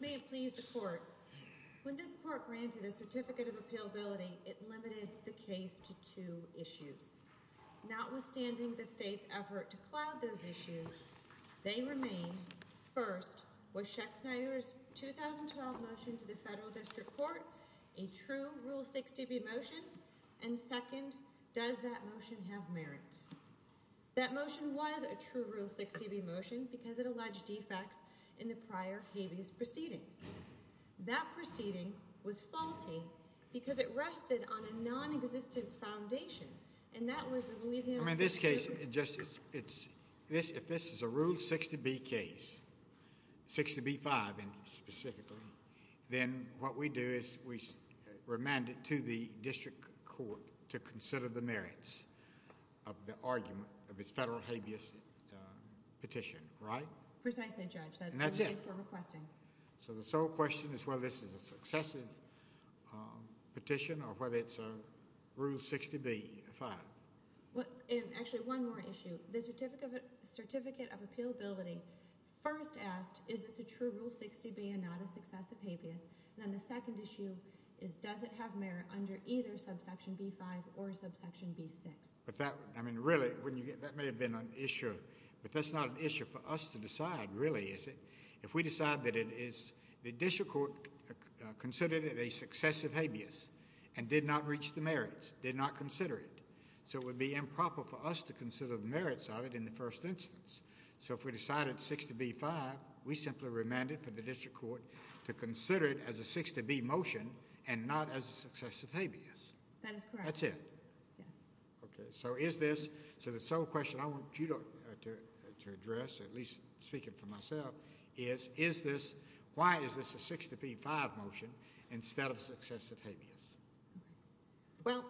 May it please the Court, when this Court granted a Certificate of Appealability, it limited the case to two issues. Notwithstanding the State's effort to cloud those issues, they true Rule 6 to B motion, and second, does that motion have merit? That motion was a true Rule 6 to B motion because it alleged defects in the prior habeas proceedings. That proceeding was faulty because it rested on a non-existent foundation, and that was the Louisiana... I mean, in this case, if this is a Rule 6 to B case, 6 to B-5 specifically, then what we do is we remand it to the District Court to consider the merits of the argument of its federal habeas petition, right? Precisely, Judge. And that's it. So the sole question is whether this is a successive petition or whether it's a Rule 6 to B-5. Actually, one more issue. The Certificate of Appealability first asked, is this a true Rule 6 to B and not a successive habeas? And then the second issue is, does it have merit under either subsection B-5 or subsection B-6? But that... I mean, really, that may have been an issue, but that's not an issue for us to decide, really, is it? If we decide that it is... the District Court considered it a successive habeas and did not reach the merits, did not consider it, so it would be improper for us to consider the merits of it in the first instance. So if we decided 6 to B-5, we simply remanded for the District Court to consider it as a 6 to B motion and not as a successive habeas. That is correct. That's it. Yes. Okay. So is this... so the sole question I want you to address, at least speaking for myself, is, is this... why is this a 6 to B-5 motion instead of successive habeas? Well,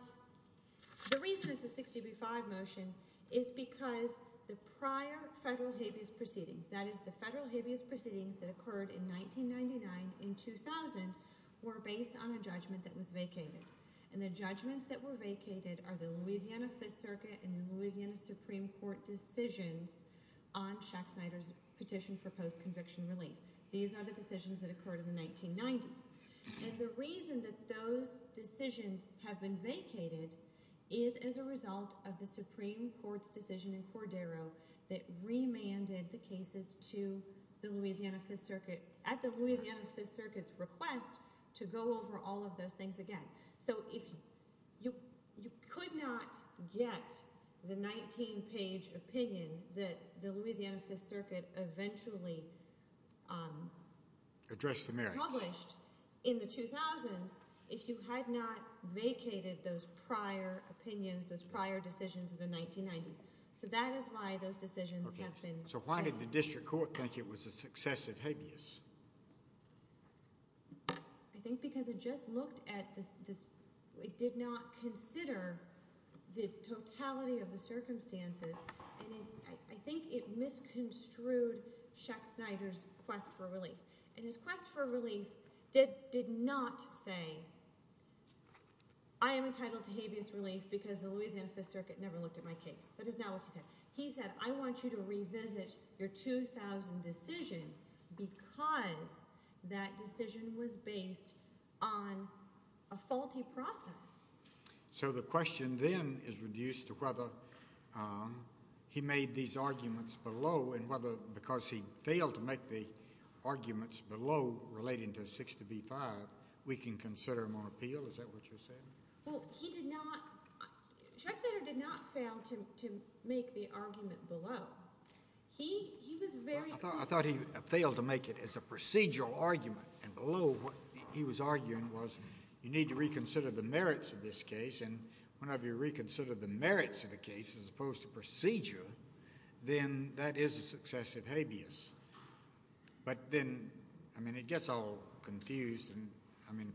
the reason it's a 6 to B-5 motion is because the prior federal habeas proceedings, that is, the federal habeas proceedings that occurred in 1999 and 2000, were based on a judgment that was vacated. And the judgments that were vacated are the Louisiana Fifth Circuit and the Louisiana Supreme Court decisions on Shaq Snyder's petition for post-conviction relief. These are the decisions that occurred in the 1990s. And the reason that those decisions have been vacated is as a result of the Supreme Court's decision in Cordero that remanded the cases to the Louisiana Fifth Circuit at the Louisiana Fifth Circuit's request to go over all of those things again. So if you could not get the 19-page opinion that the Louisiana Fifth Circuit eventually published in the 2000s, if you had not vacated those prior opinions, those prior decisions in the 1990s. So that is why those decisions have been... So why did the district court think it was a successive habeas? I think because it just looked at the... it did not consider the totality of the circumstances. And I think it misconstrued Shaq Snyder's quest for relief. And his quest for relief did not say, I am entitled to habeas relief because the Louisiana Fifth Circuit never looked at my case. That is not what he said. He said, I want you to revisit your 2000 decision because that decision was based on a faulty process. So the question then is reduced to whether he made these arguments below and whether because he failed to make the arguments below relating to 6 to B-5, we can consider him on appeal. Is that what you're saying? Well, he did not... Shaq Snyder did not fail to make the argument below. He was very... I thought he failed to make it as a procedural argument. And below, what he was arguing was you need to reconsider the merits of this case. And whenever you reconsider the merits of the case as opposed to procedure, then that is a successive habeas. But then, I mean, it gets all confused. I mean,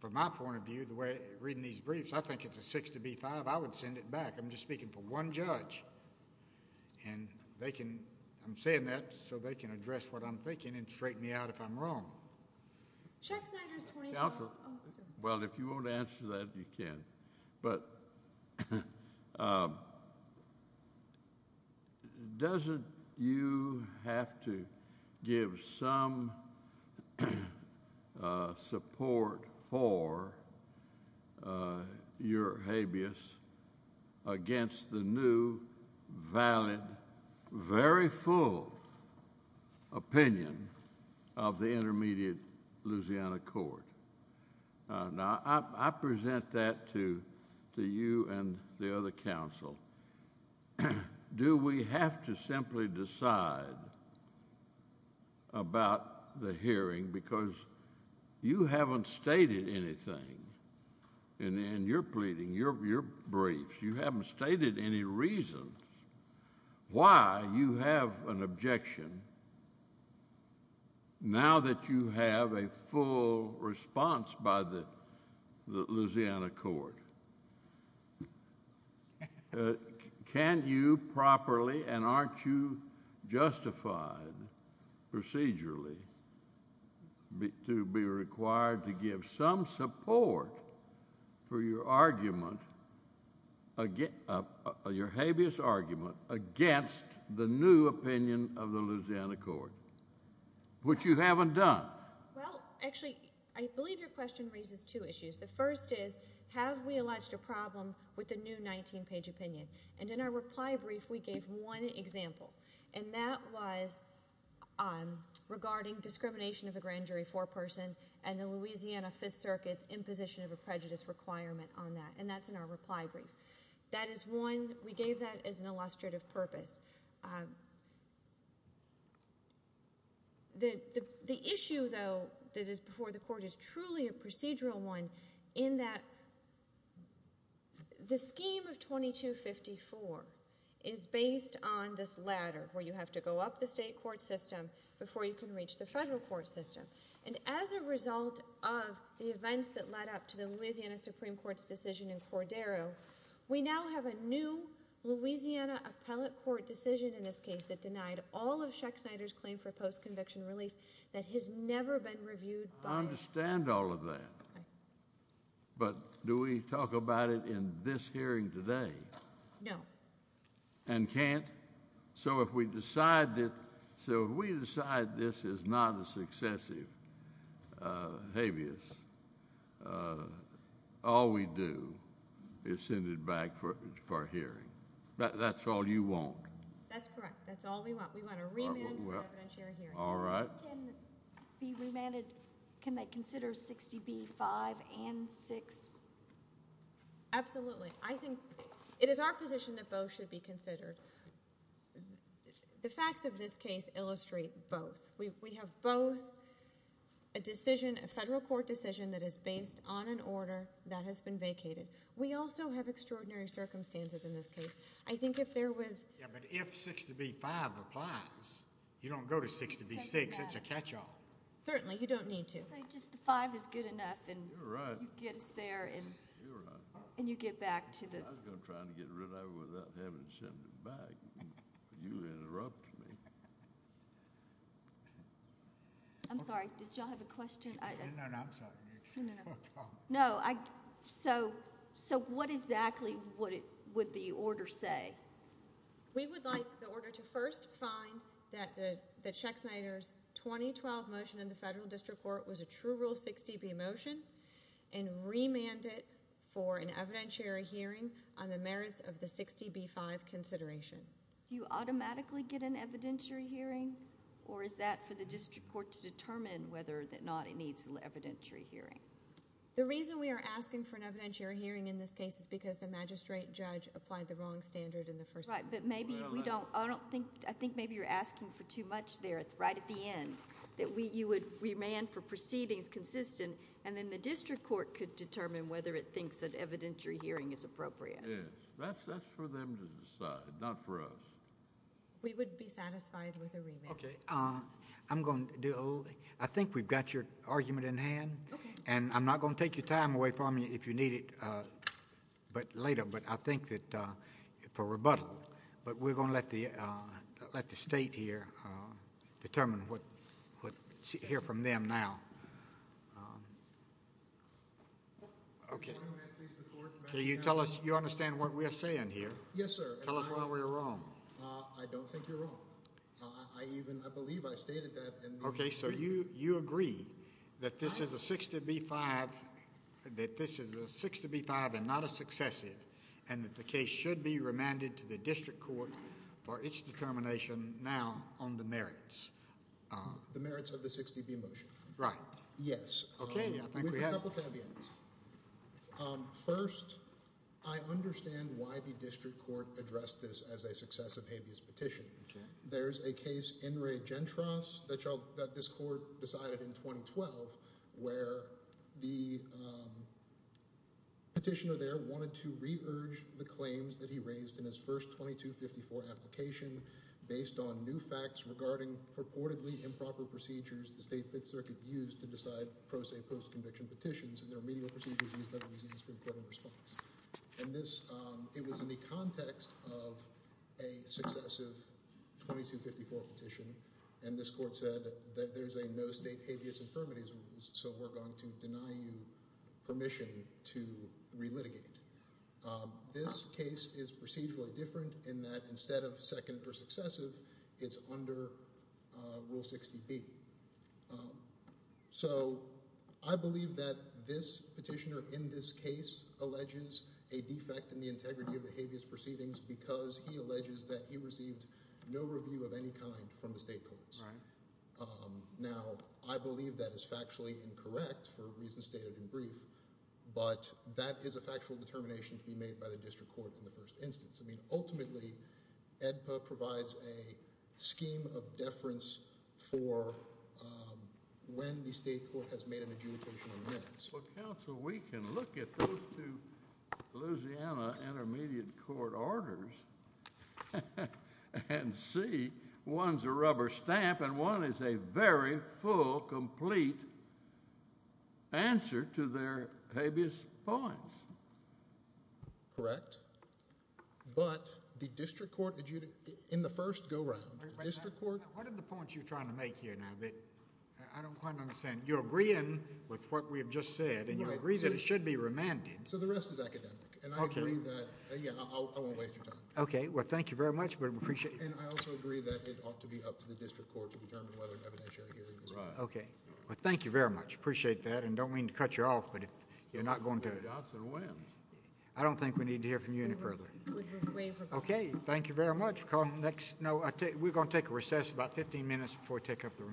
from my point of view, the way... reading these briefs, I think it's a 6 to B-5. I would send it back. I'm just speaking for one judge. And they can... I'm saying that so they can address what I'm thinking and straighten me out if I'm wrong. Shaq Snyder's 2012... Well, if you want to answer that, you can. But doesn't you have to give some support for your habeas against the new, valid, very full opinion of the intermediate Louisiana Court? Now, I present that to you and the other counsel. Do we have to simply decide about the hearing because you haven't stated anything in your pleading, your briefs. You have an objection. Now that you have a full response by the Louisiana Court, can you properly and aren't you justified, procedurally, to be required to give some support for your habeas argument against the new opinion of the Louisiana Court, which you haven't done? Well, actually, I believe your question raises two issues. The first is, have we alleged a problem with the new 19-page opinion? And in our reply brief, we gave one example. And that was regarding discrimination of a grand jury foreperson and the Louisiana Fifth Circuit's requirement on that. And that's in our reply brief. That is one. We gave that as an illustrative purpose. The issue, though, that is before the Court is truly a procedural one in that the scheme of 2254 is based on this ladder where you have to go up the state court system before you can reach the federal court system. And as a result of the events that led up to the Louisiana Supreme Court's decision in Cordero, we now have a new Louisiana appellate court decision in this case that denied all of Chuck Snyder's claim for post-conviction relief that has never been reviewed by us. I understand all of that. But do we talk about it in this hearing today? No. And can't? So if we decide this is not a successive habeas, all we do is send it back for hearing. That's all you want? That's correct. That's all we want. We want a remand for evidentiary hearing. All right. Can it be remanded? Can they consider 60B-5 and 6? Absolutely. I think it is our position that both should be considered. The facts of this case illustrate both. We have both a decision, a federal court decision that is based on an order that has been vacated. We also have extraordinary circumstances in this case. I think if there was... Yeah, but if 60B-5 applies, you don't go to 60B-6. It's a catch-all. Certainly. You don't need to. So just the 5 is good enough and you get us there and you get back to the... I was going to try to get rid of it without having to send it back, but you interrupted me. I'm sorry. Did you all have a question? No, no. I'm sorry. No. So what exactly would the order say? We would like the order to first find that Sheck Snyder's 2012 motion in the federal district court was a true rule 60B motion and remand it for an evidentiary hearing on the merits of the 60B-5 consideration. Do you automatically get an evidentiary hearing or is that for the district court to determine whether or not it needs an evidentiary hearing? The reason we are asking for an evidentiary hearing in this case is because the magistrate judge applied the wrong standard in the first place. Right, but maybe we don't... I think maybe you're asking for too much there right at the end. That you would remand for proceedings consistent and then the district court could determine whether it thinks an evidentiary hearing is appropriate. Yes. That's for them to decide, not for us. We would be satisfied with a remand. Okay. I'm going to do a little... I think we've got your argument in hand and I'm not going to take your time away from you if you need it later, but I think that for rebuttal, but we're going to let the state here determine what... hear from them now. Okay. Can you tell us... you understand what we're saying here? Yes, sir. Tell us why we're wrong. I don't think you're wrong. I even... I believe I stated that and... and that the case should be remanded to the district court for its determination now on the merits. The merits of the 60B motion. Right. Yes. Okay. I think we have... We have a couple of caveats. First, I understand why the district court addressed this as a successive habeas petition. Okay. There's a case, In re Gentros, that this court decided in 2012, where the petitioner there wanted to re-urge the claims that he raised in his first 2254 application based on new facts regarding purportedly improper procedures the State Fifth Circuit used to decide pro se post-conviction petitions and their remedial procedures used by the Louisiana Supreme Court in response. And this... it was in the context of a successive 2254 petition. And this court said that there's a no State habeas infirmities rule, so we're going to deny you permission to re-litigate. This case is procedurally different in that instead of second per successive, it's under Rule 60B. So I believe that this petitioner in this case alleges a defect in the integrity of the habeas proceedings because he alleges that he received no review of any kind from the state courts. Now, I believe that is factually incorrect for reasons stated in brief, but that is a factual determination to be made by the district court in the first instance. I mean, ultimately, AEDPA provides a scheme of deference for when the state court has made an adjudication of merits. Well, counsel, we can look at those two Louisiana intermediate court orders and see one's a rubber stamp and one is a very full, complete answer to their habeas points. Correct. But the district court, in the first go-round, the district court... What are the points you're trying to make here now that I don't quite understand? You're agreeing with what we have just said, and you agree that it should be remanded. So the rest is academic, and I agree that... Okay. Yeah, I won't waste your time. Okay. Well, thank you very much, but I appreciate... And I also agree that it ought to be up to the district court to determine whether an evidentiary hearing is... Right. Okay. Well, thank you very much. Appreciate that, and don't mean to cut you off, but if you're not going to... Johnson wins. I don't think we need to hear from you any further. Okay. Thank you very much. We're going to take a recess about 15 minutes before we take up the remand.